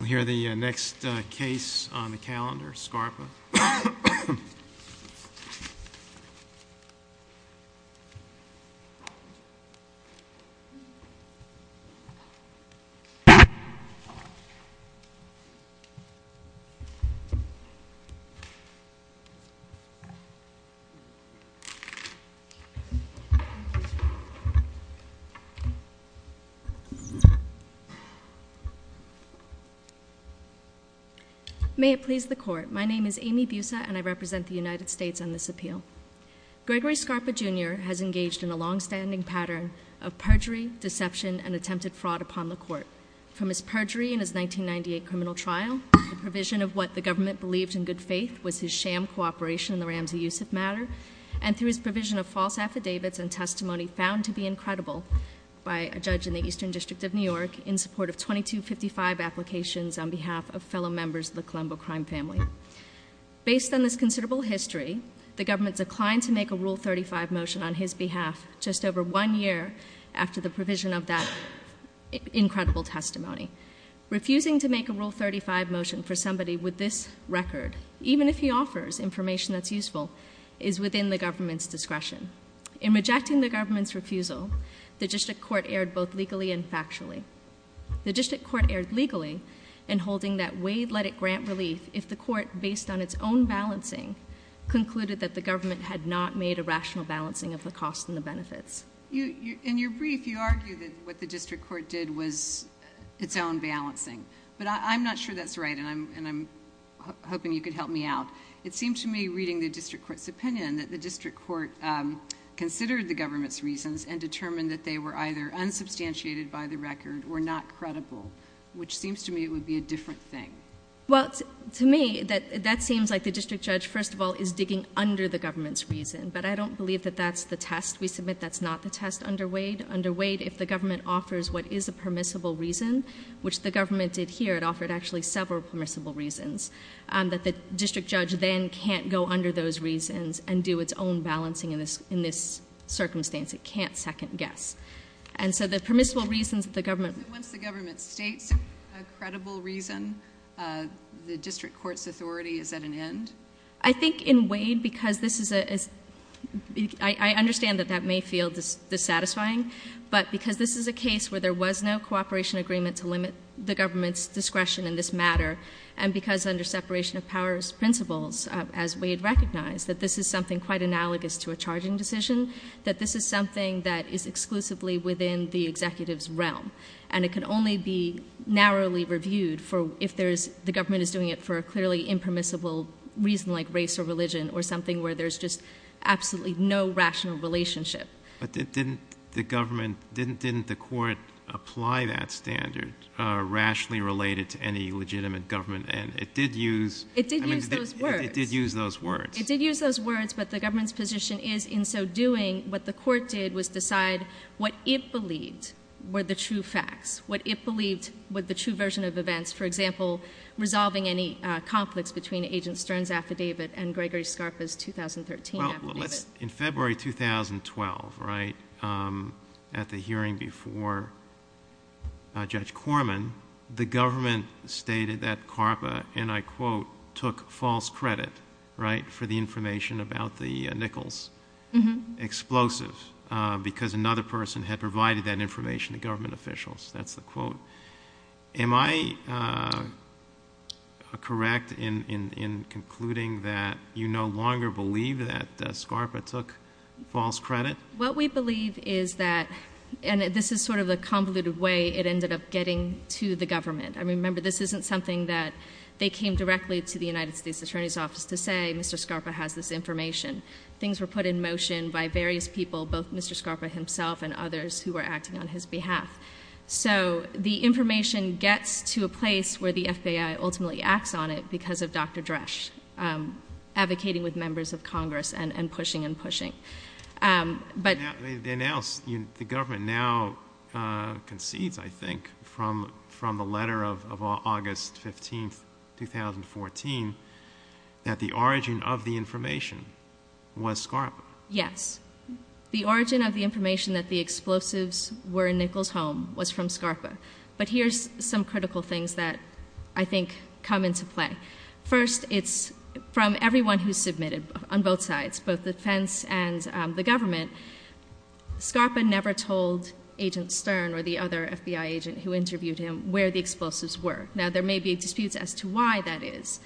We'll hear the next case on the calendar, Scarpa. May it please the Court. My name is Amy Busa and I represent the United States on this appeal. Gregory Scarpa, Jr. has engaged in a long-standing pattern of perjury, deception, and attempted fraud upon the Court. From his perjury in his 1998 criminal trial, the provision of what the government believed in good faith was his sham cooperation in the Ramsey-Yusuf matter, and through his provision of false affidavits and testimony found to be incredible by a judge in the Eastern District of New York in support of 2255 applications on behalf of fellow members of the Colombo crime family. Based on this considerable history, the government declined to make a Rule 35 motion on his behalf just over one year after the provision of that incredible testimony. Refusing to make a Rule 35 motion for somebody with this record, even if he offers information that's useful, is within the government's discretion. In rejecting the government's refusal, the District Court erred both legally and factually. The District Court erred legally in holding that Wade let it grant relief if the Court, based on its own balancing, concluded that the government had not made a rational balancing of the costs and the benefits. In your brief, you argue that what the District Court did was its own balancing. But I'm not sure that's right, and I'm hoping you could help me out. It seemed to me, reading the District Court's opinion, that the District Court considered the government's reasons and determined that they were either unsubstantiated by the record or not credible, which seems to me it would be a different thing. Well, to me, that seems like the District Judge, first of all, is digging under the government's reason, but I don't believe that that's the test. We submit that's not the test under Wade. Under Wade, if the government offers what is a permissible reason, which the government did here, it offered actually several permissible reasons, that the District Judge then can't go under those reasons and do its own balancing in this circumstance. It can't second-guess. And so the permissible reasons that the government... So once the government states a credible reason, the District Court's authority is at an end? I think in Wade, because this is a... I understand that that may feel dissatisfying, but because this is a case where there was no cooperation agreement to limit the government's discretion in this matter and because under separation of powers principles, as Wade recognized, that this is something quite analogous to a charging decision, that this is something that is exclusively within the executive's realm, and it can only be narrowly reviewed if the government is doing it for a clearly impermissible reason like race or religion or something where there's just absolutely no rational relationship. But didn't the government... Didn't the court apply that standard rationally related to any legitimate government? And it did use... It did use those words. It did use those words. It did use those words, but the government's position is in so doing, what the court did was decide what it believed were the true facts, what it believed were the true version of events, for example, resolving any conflicts between Agent Stern's affidavit and Gregory Scarpa's 2013 affidavit. Well, let's... In February 2012, right, at the hearing before Judge Corman, the government stated that Scarpa, and I quote, took false credit, right, for the information about the Nichols explosive because another person had provided that information to government officials. That's the quote. Am I correct in concluding that you no longer believe that Scarpa took false credit? What we believe is that, and this is sort of the convoluted way it ended up getting to the government. I remember this isn't something that they came directly to the United States Attorney's Office to say, Mr. Scarpa has this information. Things were put in motion by various people, both Mr. Scarpa himself and others, who were acting on his behalf. So the information gets to a place where the FBI ultimately acts on it because of Dr. Dresch advocating with members of Congress and pushing and pushing. But... The government now concedes, I think, from the letter of August 15, 2014, that the origin of the information was Scarpa. Yes. The origin of the information that the explosives were in Nichols' home was from Scarpa. But here's some critical things that I think come into play. First, it's from everyone who submitted on both sides, both the defense and the government. Scarpa never told Agent Stern or the other FBI agent who interviewed him where the explosives were. Now, there may be disputes as to why that is.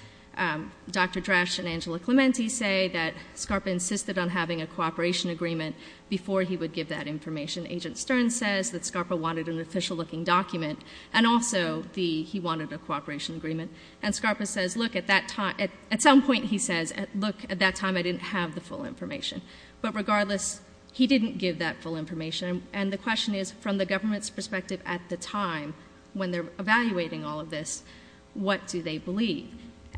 Dr. Dresch and Angela Clemente say that Scarpa insisted on having a cooperation agreement before he would give that information. Agent Stern says that Scarpa wanted an official-looking document, and also he wanted a cooperation agreement. And Scarpa says, look, at some point he says, look, at that time I didn't have the full information. But regardless, he didn't give that full information. And the question is, from the government's perspective at the time, when they're evaluating all of this, what do they believe?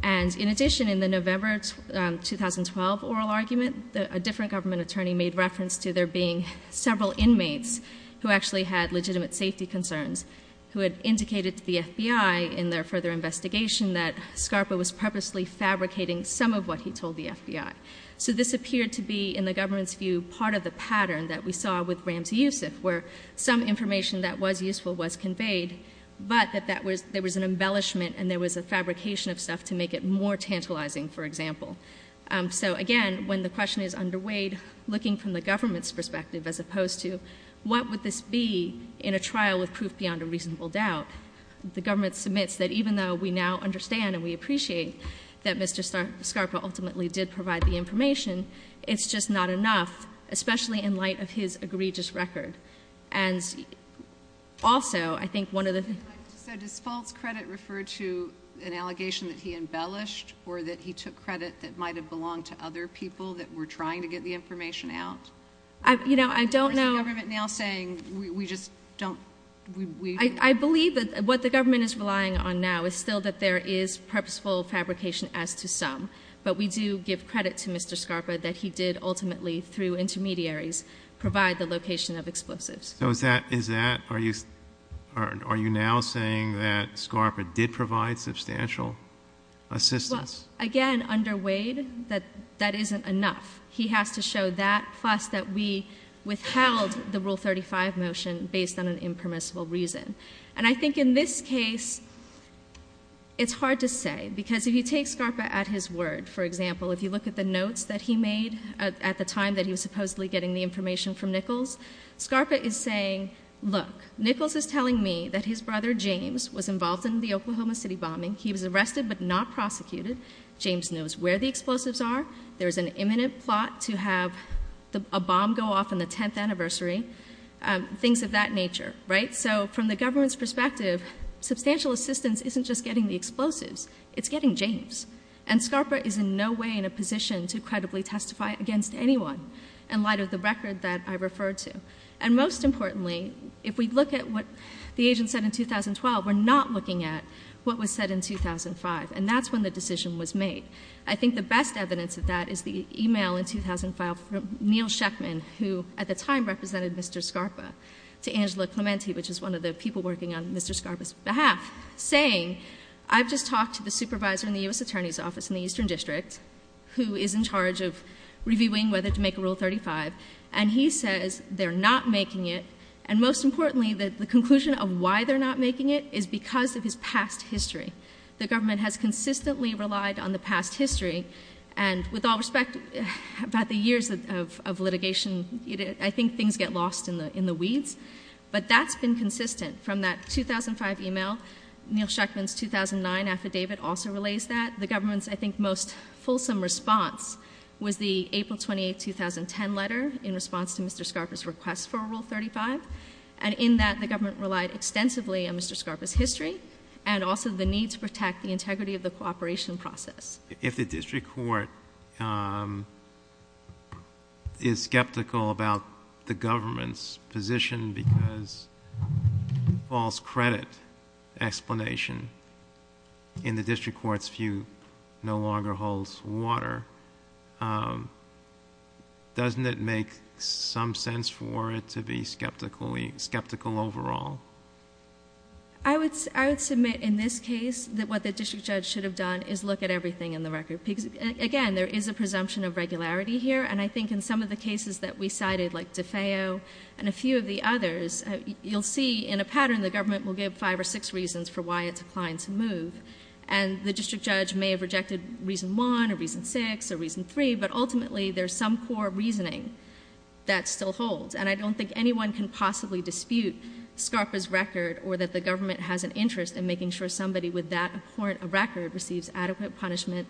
And in addition, in the November 2012 oral argument, a different government attorney made reference to there being several inmates who actually had legitimate safety concerns, who had indicated to the FBI in their further investigation that Scarpa was purposely fabricating some of what he told the FBI. So this appeared to be, in the government's view, part of the pattern that we saw with Ramsey Youssef, where some information that was useful was conveyed, but that there was an embellishment and there was a fabrication of stuff to make it more tantalizing, for example. So again, when the question is underweighed, looking from the government's perspective, as opposed to what would this be in a trial with proof beyond a reasonable doubt, the government submits that even though we now understand and we appreciate that Mr. Scarpa ultimately did provide the information, it's just not enough, especially in light of his egregious record. And also, I think one of the things... So does false credit refer to an allegation that he embellished or that he took credit that might have belonged to other people that were trying to get the information out? You know, I don't know... Or is the government now saying we just don't... I believe that what the government is relying on now is still that there is purposeful fabrication as to some, but we do give credit to Mr. Scarpa that he did ultimately, through intermediaries, provide the location of explosives. So is that... Are you now saying that Scarpa did provide substantial assistance? Well, again, underweighed, that isn't enough. He has to show that, plus that we withheld the Rule 35 motion based on an impermissible reason. And I think in this case, it's hard to say, because if you take Scarpa at his word, for example, if you look at the notes that he made at the time that he was supposedly getting the information from Nichols, Scarpa is saying, Look, Nichols is telling me that his brother, James, was involved in the Oklahoma City bombing. He was arrested but not prosecuted. James knows where the explosives are. There is an imminent plot to have a bomb go off on the 10th anniversary, things of that nature, right? So from the government's perspective, substantial assistance isn't just getting the explosives. It's getting James. And Scarpa is in no way in a position to credibly testify against anyone in light of the record that I referred to. And most importantly, if we look at what the agent said in 2012, we're not looking at what was said in 2005, and that's when the decision was made. I think the best evidence of that is the e-mail in 2005 from Neal Sheffman, who at the time represented Mr. Scarpa, to Angela Clementi, which is one of the people working on Mr. Scarpa's behalf, saying, I've just talked to the supervisor in the U.S. Attorney's Office in the Eastern District, who is in charge of reviewing whether to make Rule 35, and he says they're not making it. And most importantly, the conclusion of why they're not making it is because of his past history. The government has consistently relied on the past history, and with all respect, about the years of litigation, I think things get lost in the weeds. But that's been consistent from that 2005 e-mail. Neal Sheffman's 2009 affidavit also relays that. The government's, I think, most fulsome response was the April 28, 2010 letter in response to Mr. Scarpa's request for Rule 35, and in that the government relied extensively on Mr. Scarpa's history and also the need to protect the integrity of the cooperation process. If the district court is skeptical about the government's position because false credit explanation in the district court's view no longer holds water, doesn't it make some sense for it to be skeptical overall? I would submit in this case that what the district judge should have done is look at everything in the record. Again, there is a presumption of regularity here, and I think in some of the cases that we cited, like DeFeo and a few of the others, you'll see in a pattern the government will give five or six reasons for why it's inclined to move. And the district judge may have rejected reason one or reason six or reason three, but ultimately there's some core reasoning that still holds. And I don't think anyone can possibly dispute Scarpa's record or that the government has an interest in making sure somebody with that record receives adequate punishment,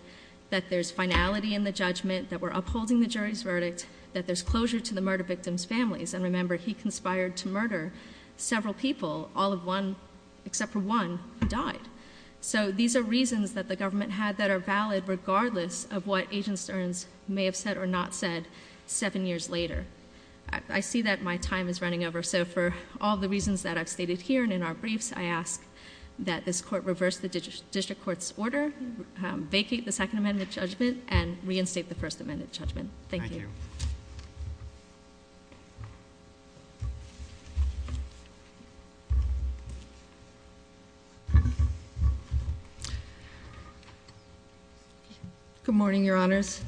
that there's finality in the judgment, that we're upholding the jury's verdict, that there's closure to the murder victim's families. And remember, he conspired to murder several people, all of one except for one who died. So these are reasons that the government had that are valid regardless of what Agent Stearns may have said or not said seven years later. I see that my time is running over, so for all the reasons that I've stated here and in our briefs, I ask that this court reverse the district court's order, vacate the Second Amendment judgment, and reinstate the First Amendment judgment. Thank you. Good morning, Your Honors.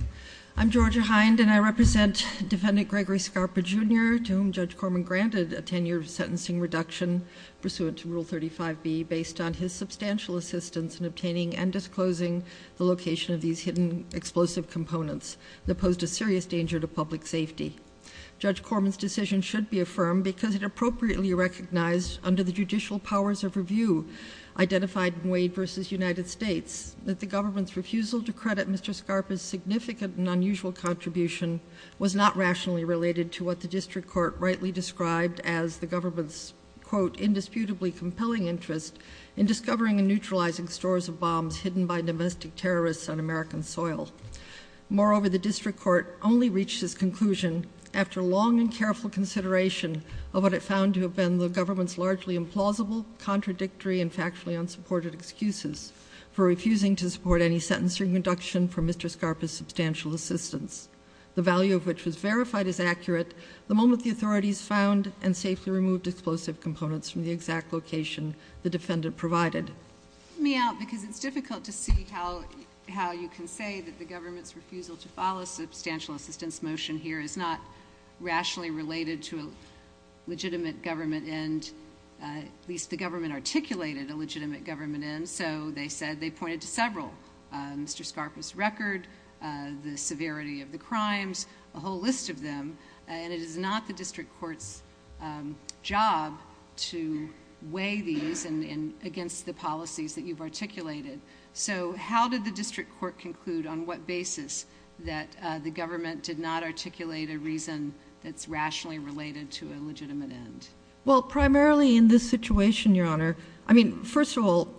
I'm Georgia Hind, and I represent Defendant Gregory Scarpa, Jr., to whom Judge Corman granted a ten-year sentencing reduction pursuant to Rule 35B based on his substantial assistance in obtaining and disclosing the location of these hidden explosive components that posed a serious danger to public safety. Judge Corman's decision should be affirmed because it appropriately recognized under the judicial powers of review identified in Wade v. United States that the government's refusal to credit Mr. Scarpa's significant and unusual contribution was not rationally related to what the district court rightly described as the government's, quote, indisputably compelling interest in discovering and neutralizing stores of bombs hidden by domestic terrorists on American soil. Moreover, the district court only reached this conclusion after long and careful consideration of what it found to have been the government's largely implausible, contradictory, and factually unsupported excuses for refusing to support any sentencing reduction for Mr. Scarpa's substantial assistance, the value of which was verified as accurate the moment the authorities found and safely removed explosive components from the exact location the defendant provided. Help me out because it's difficult to see how you can say that the government's refusal to follow a substantial assistance motion here is not rationally related to a legitimate government end, at least the government articulated a legitimate government end, so they said they pointed to several, Mr. Scarpa's record, the severity of the crimes, a whole list of them, and it is not the district court's job to weigh these against the policies that you've articulated. So how did the district court conclude on what basis that the government did not articulate a reason that's rationally related to a legitimate end? Well, primarily in this situation, Your Honor, I mean, first of all,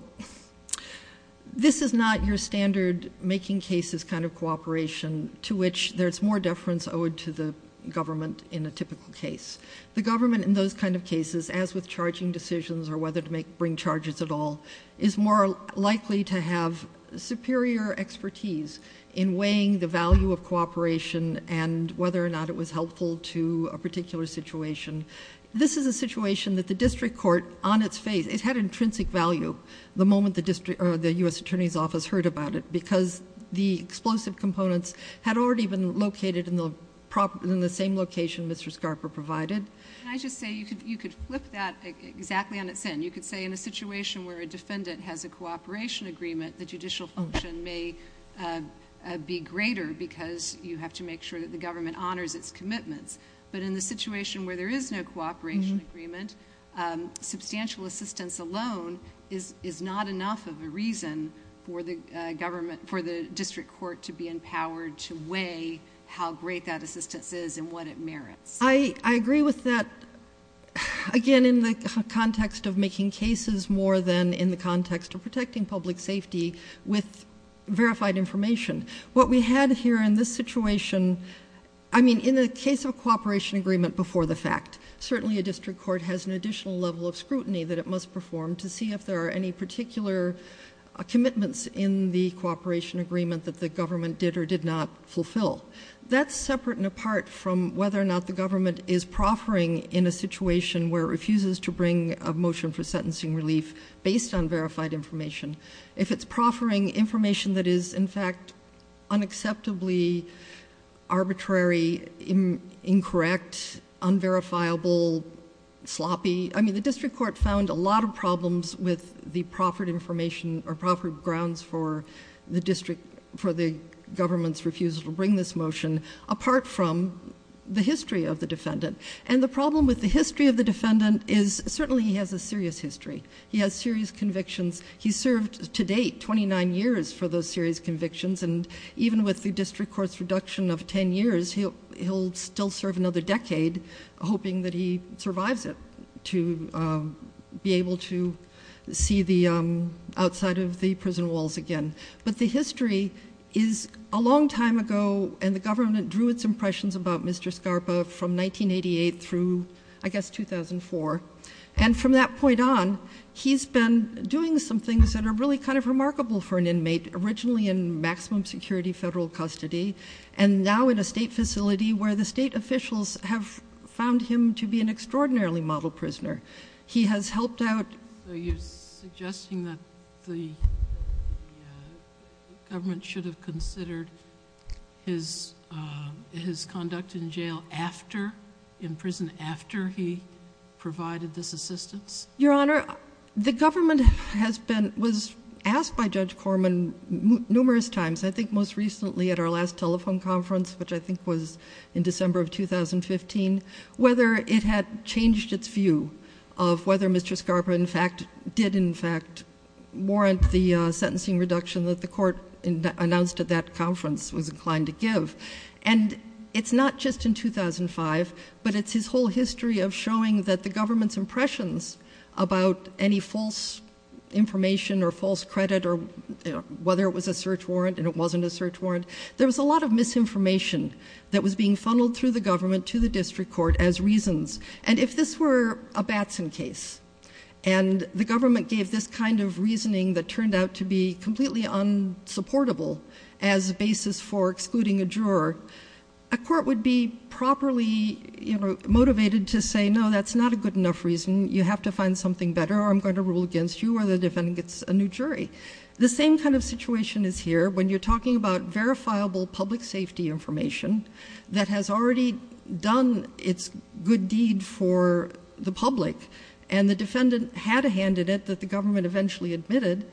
this is not your standard making cases kind of cooperation to which there's more deference owed to the government in a typical case. The government in those kind of cases, as with charging decisions or whether to bring charges at all, is more likely to have superior expertise in weighing the value of cooperation and whether or not it was helpful to a particular situation. This is a situation that the district court, on its face, it had intrinsic value the moment the U.S. Attorney's Office heard about it because the explosive components had already been located in the same location Mr. Scarpa provided. Can I just say, you could flip that exactly on its end. You could say in a situation where a defendant has a cooperation agreement, the judicial function may be greater because you have to make sure that the government honors its commitments. But in the situation where there is no cooperation agreement, substantial assistance alone is not enough of a reason for the district court to be empowered to weigh how great that assistance is and what it merits. I agree with that, again, in the context of making cases more than in the context of protecting public safety with verified information. What we had here in this situation, I mean, in the case of a cooperation agreement before the fact, certainly a district court has an additional level of scrutiny that it must perform to see if there are any particular commitments in the cooperation agreement that the government did or did not fulfill. That's separate and apart from whether or not the government is proffering in a situation where it refuses to bring a motion for sentencing relief based on verified information. If it's proffering information that is, in fact, unacceptably arbitrary, incorrect, unverifiable, sloppy... I mean, the district court found a lot of problems with the proffered information or proffered grounds for the government's refusal to bring this motion apart from the history of the defendant. The problem with the history of the defendant is, certainly he has a serious history. He has serious convictions. He served, to date, 29 years for those serious convictions, and even with the district court's reduction of 10 years, he'll still serve another decade hoping that he survives it to be able to see the outside of the prison walls again. But the history is a long time ago, and the government drew its impressions about Mr. Scarpa from 1988 through, I guess, 2004. And from that point on, he's been doing some things that are really kind of remarkable for an inmate, originally in maximum security federal custody and now in a state facility where the state officials have found him to be an extraordinarily model prisoner. He has helped out... So you're suggesting that the government should have considered his conduct in jail in prison after he provided this assistance? Your Honor, the government was asked by Judge Corman numerous times, I think most recently at our last telephone conference, which I think was in December of 2015, whether it had changed its view of whether Mr. Scarpa, in fact, did in fact warrant the sentencing reduction that the court announced at that conference was inclined to give. And it's not just in 2005, but it's his whole history of showing that the government's impressions about any false information or false credit or whether it was a search warrant and it wasn't a search warrant, there was a lot of misinformation that was being funneled through the government to the district court as reasons. And if this were a Batson case, and the government gave this kind of reasoning that turned out to be completely unsupportable as a basis for excluding a juror, a court would be properly motivated to say, no, that's not a good enough reason, you have to find something better or I'm going to rule against you or the defendant gets a new jury. The same kind of situation is here when you're talking about verifiable public safety information that has already done its good deed for the public and the defendant had a hand in it that the government eventually admitted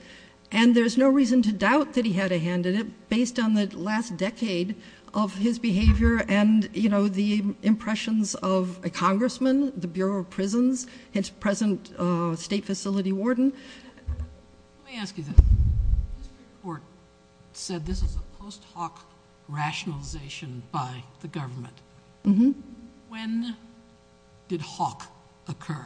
and there's no reason to doubt that he had a hand in it based on the last decade of his behavior and the impressions of a congressman, the Bureau of Prisons, his present state facility warden. Let me ask you this. The district court said this is a post-Hawk rationalization by the government. When did Hawk occur?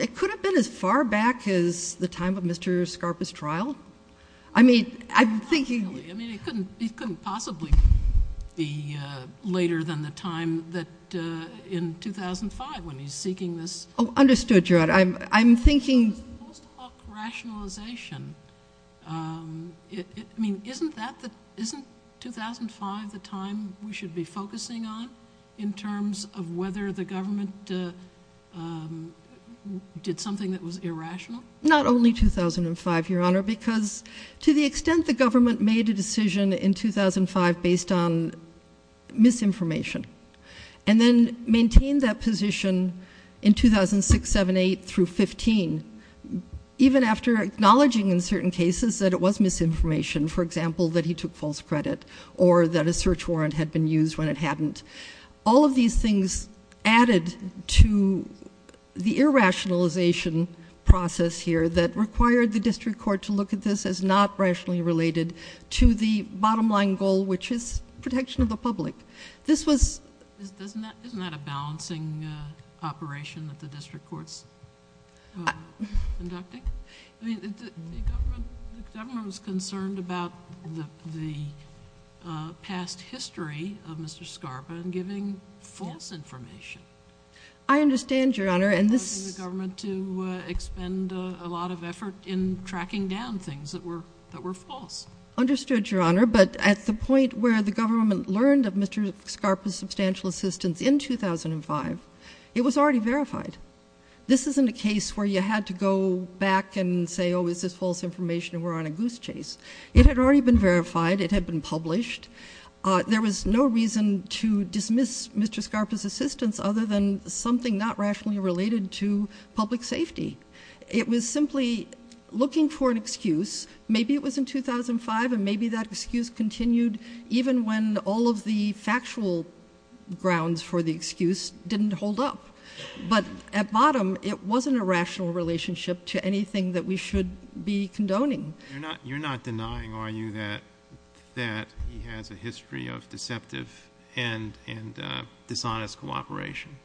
It could have been as far back as the time of Mr. Scarpa's trial. I mean, I'm thinking. It couldn't possibly be later than the time in 2005 when he's seeking this. Oh, understood, Your Honor. I'm thinking. Post-Hawk rationalization. I mean, isn't 2005 the time we should be focusing on in terms of whether the government did something that was irrational? Not only 2005, Your Honor, because to the extent the government made a decision in 2005 based on misinformation and then maintained that position in 2006, 2007, 2008 through 2015, even after acknowledging in certain cases that it was misinformation, for example, that he took false credit or that a search warrant had been used when it hadn't, all of these things added to the irrationalization process here that required the district court to look at this as not rationally related to the bottom line goal, which is protection of the public. Isn't that a balancing operation that the district court's conducting? I mean, the government was concerned about the past history of Mr. Scarpa and giving false information. I understand, Your Honor. And this is causing the government to expend a lot of effort in tracking down things that were false. Understood, Your Honor, but at the point where the government learned of Mr. Scarpa's substantial assistance in 2005, it was already verified. This isn't a case where you had to go back and say, oh, is this false information, and we're on a goose chase. It had already been verified. It had been published. There was no reason to dismiss Mr. Scarpa's assistance other than something not rationally related to public safety. It was simply looking for an excuse. Maybe it was in 2005, and maybe that excuse continued even when all of the factual grounds for the excuse didn't hold up. But at bottom, it wasn't a rational relationship to anything that we should be condoning. You're not denying, are you, that he has a history of deceptive and dishonest cooperation?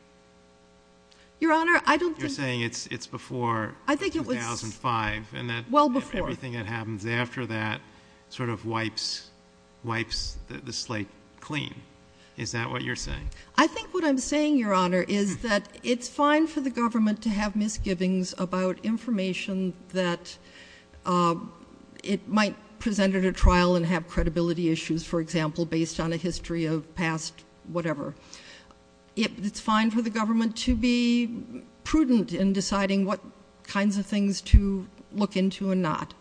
Your Honor, I don't think. You're saying it's before 2005. I think it was well before. And that everything that happens after that sort of wipes the slate clean. Is that what you're saying? I think what I'm saying, Your Honor, is that it's fine for the government to have misgivings about information that it might present at a trial and have credibility issues, for example, based on a history of past whatever. It's fine for the government to be prudent in deciding what kinds of things to look into and not.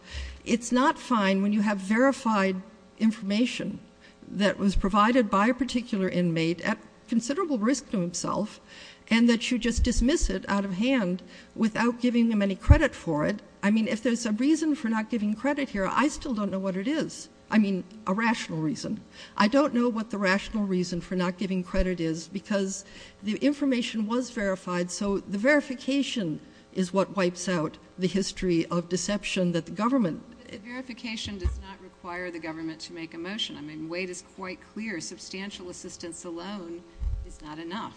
It's not fine when you have verified information that was provided by a particular inmate at considerable risk to himself, and that you just dismiss it out of hand without giving them any credit for it. I mean, if there's a reason for not giving credit here, I still don't know what it is. I mean, a rational reason. I don't know what the rational reason for not giving credit is because the information was verified, so the verification is what wipes out the history of deception that the government. Verification does not require the government to make a motion. I mean, Wade is quite clear. Substantial assistance alone is not enough.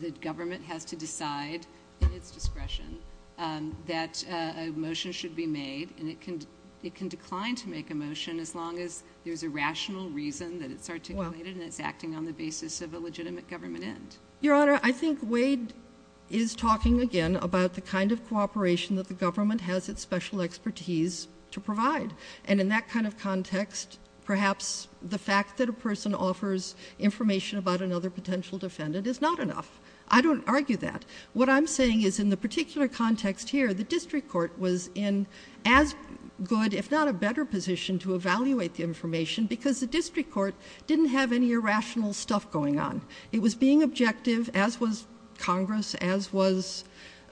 The government has to decide in its discretion that a motion should be made, and it can decline to make a motion as long as there's a rational reason that it's articulated and it's acting on the basis of a legitimate government end. Your Honor, I think Wade is talking again about the kind of cooperation that the government has its special expertise to provide, and in that kind of context perhaps the fact that a person offers information about another potential defendant is not enough. I don't argue that. What I'm saying is in the particular context here, the district court was in as good if not a better position to evaluate the information because the district court didn't have any irrational stuff going on. It was being objective, as was Congress, as was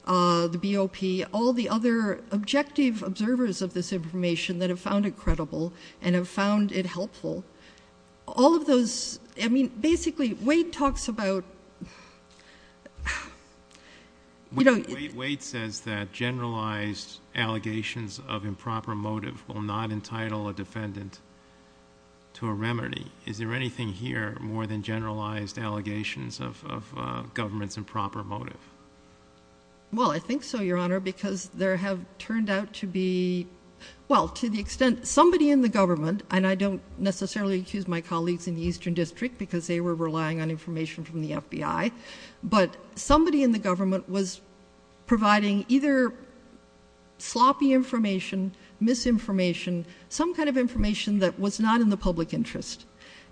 the BOP, all the other objective observers of this information that have found it credible and have found it helpful. All of those, I mean, basically Wade talks about, you know. Wade says that generalized allegations of improper motive will not entitle a defendant to a remedy. Is there anything here more than generalized allegations of government's improper motive? Well, I think so, Your Honor, because there have turned out to be, well, to the extent somebody in the government, and I don't necessarily accuse my colleagues in the Eastern District because they were relying on information from the FBI, but somebody in the government was providing either sloppy information, misinformation, some kind of information that was not in the public interest.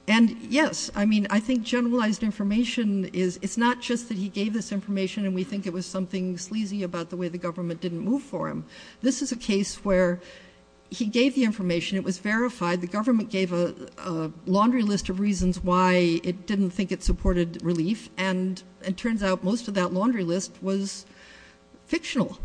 And, yes, I mean, I think generalized information is, it's not just that he gave this information and we think it was something sleazy about the way the government didn't move for him. This is a case where he gave the information. It was verified. The government gave a laundry list of reasons why it didn't think it supported relief, and it turns out most of that laundry list was fictional,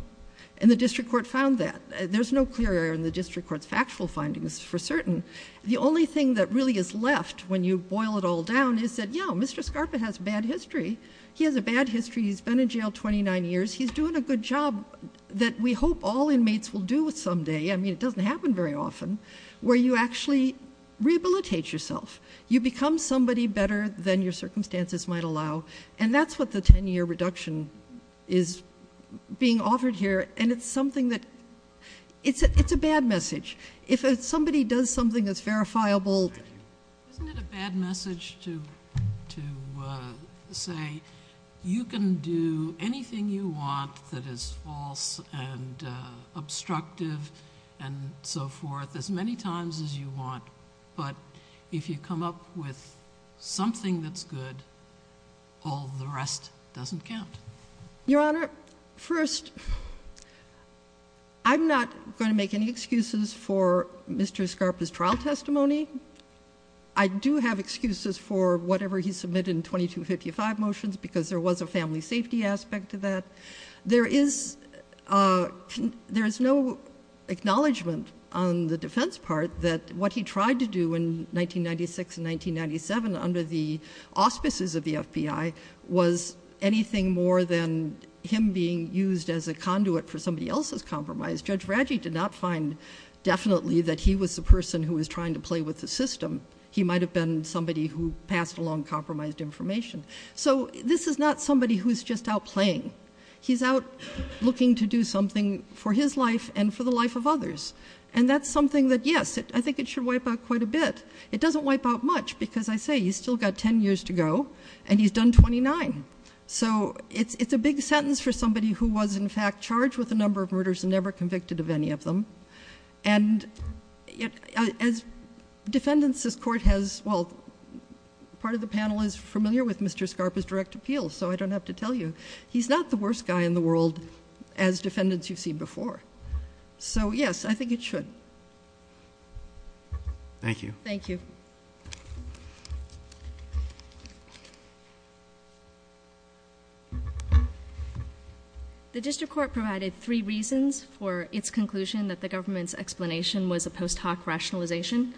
and the district court found that. There's no clear error in the district court's factual findings for certain. The only thing that really is left when you boil it all down is that, yeah, Mr. Scarpa has bad history. He has a bad history. He's been in jail 29 years. He's doing a good job that we hope all inmates will do someday. I mean, it doesn't happen very often where you actually rehabilitate yourself. You become somebody better than your circumstances might allow, and that's what the 10-year reduction is being offered here, and it's something that it's a bad message. If somebody does something that's verifiable. Isn't it a bad message to say you can do anything you want that is false and obstructive and so forth as many times as you want, but if you come up with something that's good, all the rest doesn't count? Your Honor, first, I'm not going to make any excuses for Mr. Scarpa's trial testimony. I do have excuses for whatever he submitted in 2255 motions because there was a family safety aspect to that. There is no acknowledgment on the defense part that what he tried to do in 1996 and 1997 under the auspices of the FBI was anything more than him being used as a conduit for somebody else's compromise. Judge Raggi did not find definitely that he was the person who was trying to play with the system. He might have been somebody who passed along compromised information. So this is not somebody who's just out playing. He's out looking to do something for his life and for the life of others, and that's something that, yes, I think it should wipe out quite a bit. It doesn't wipe out much because I say he's still got ten years to go, and he's done 29. So it's a big sentence for somebody who was, in fact, charged with a number of murders and never convicted of any of them. And as defendants this court has, well, part of the panel is familiar with Mr. Scarpa's direct appeal, so I don't have to tell you. He's not the worst guy in the world as defendants you've seen before. So, yes, I think it should. Thank you. Thank you. Thank you. The district court provided three reasons for its conclusion that the government's explanation was a post hoc rationalization,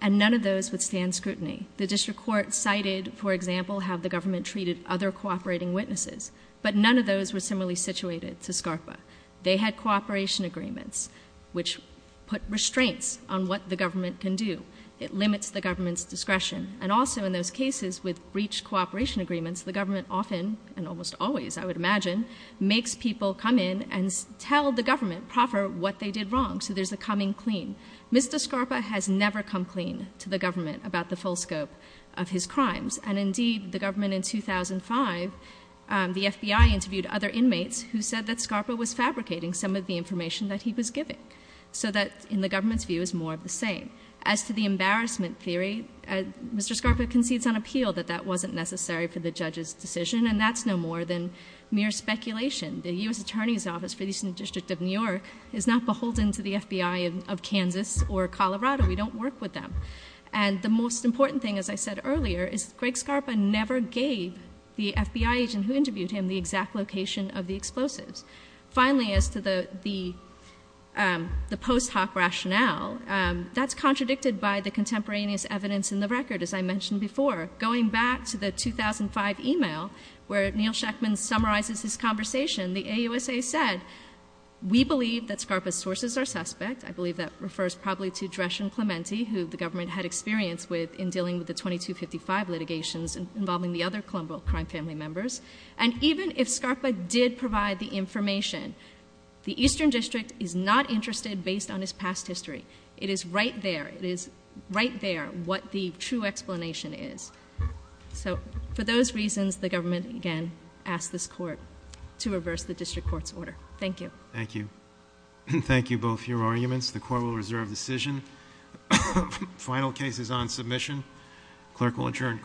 and none of those withstand scrutiny. The district court cited, for example, how the government treated other cooperating witnesses, but none of those were similarly situated to Scarpa. They had cooperation agreements, which put restraints on what the government can do. It limits the government's discretion. And also in those cases with breached cooperation agreements, the government often, and almost always, I would imagine, makes people come in and tell the government proper what they did wrong, so there's a coming clean. Mr. Scarpa has never come clean to the government about the full scope of his crimes. And indeed, the government in 2005, the FBI interviewed other inmates who said that Scarpa was fabricating some of the information that he was giving. So that, in the government's view, is more of the same. As to the embarrassment theory, Mr. Scarpa concedes on appeal that that wasn't necessary for the judge's decision. And that's no more than mere speculation. The US Attorney's Office for the Eastern District of New York is not beholden to the FBI of Kansas or Colorado. We don't work with them. And the most important thing, as I said earlier, is Greg Scarpa never gave the FBI agent who interviewed him the exact location of the explosives. Finally, as to the post hoc rationale, that's contradicted by the contemporaneous evidence in the record, as I mentioned before. Going back to the 2005 email, where Neil Sheckman summarizes his conversation, the AUSA said, we believe that Scarpa's sources are suspect. I believe that refers probably to Dreschen Clementi, who the government had experience with in dealing with the 2255 litigations involving the other Colombo crime family members. And even if Scarpa did provide the information, the Eastern District is not interested based on his past history. It is right there, it is right there, what the true explanation is. So for those reasons, the government, again, asks this court to reverse the district court's order. Thank you. Thank you. Thank you both for your arguments. The court will reserve decision. Final case is on submission. Clerk will adjourn court.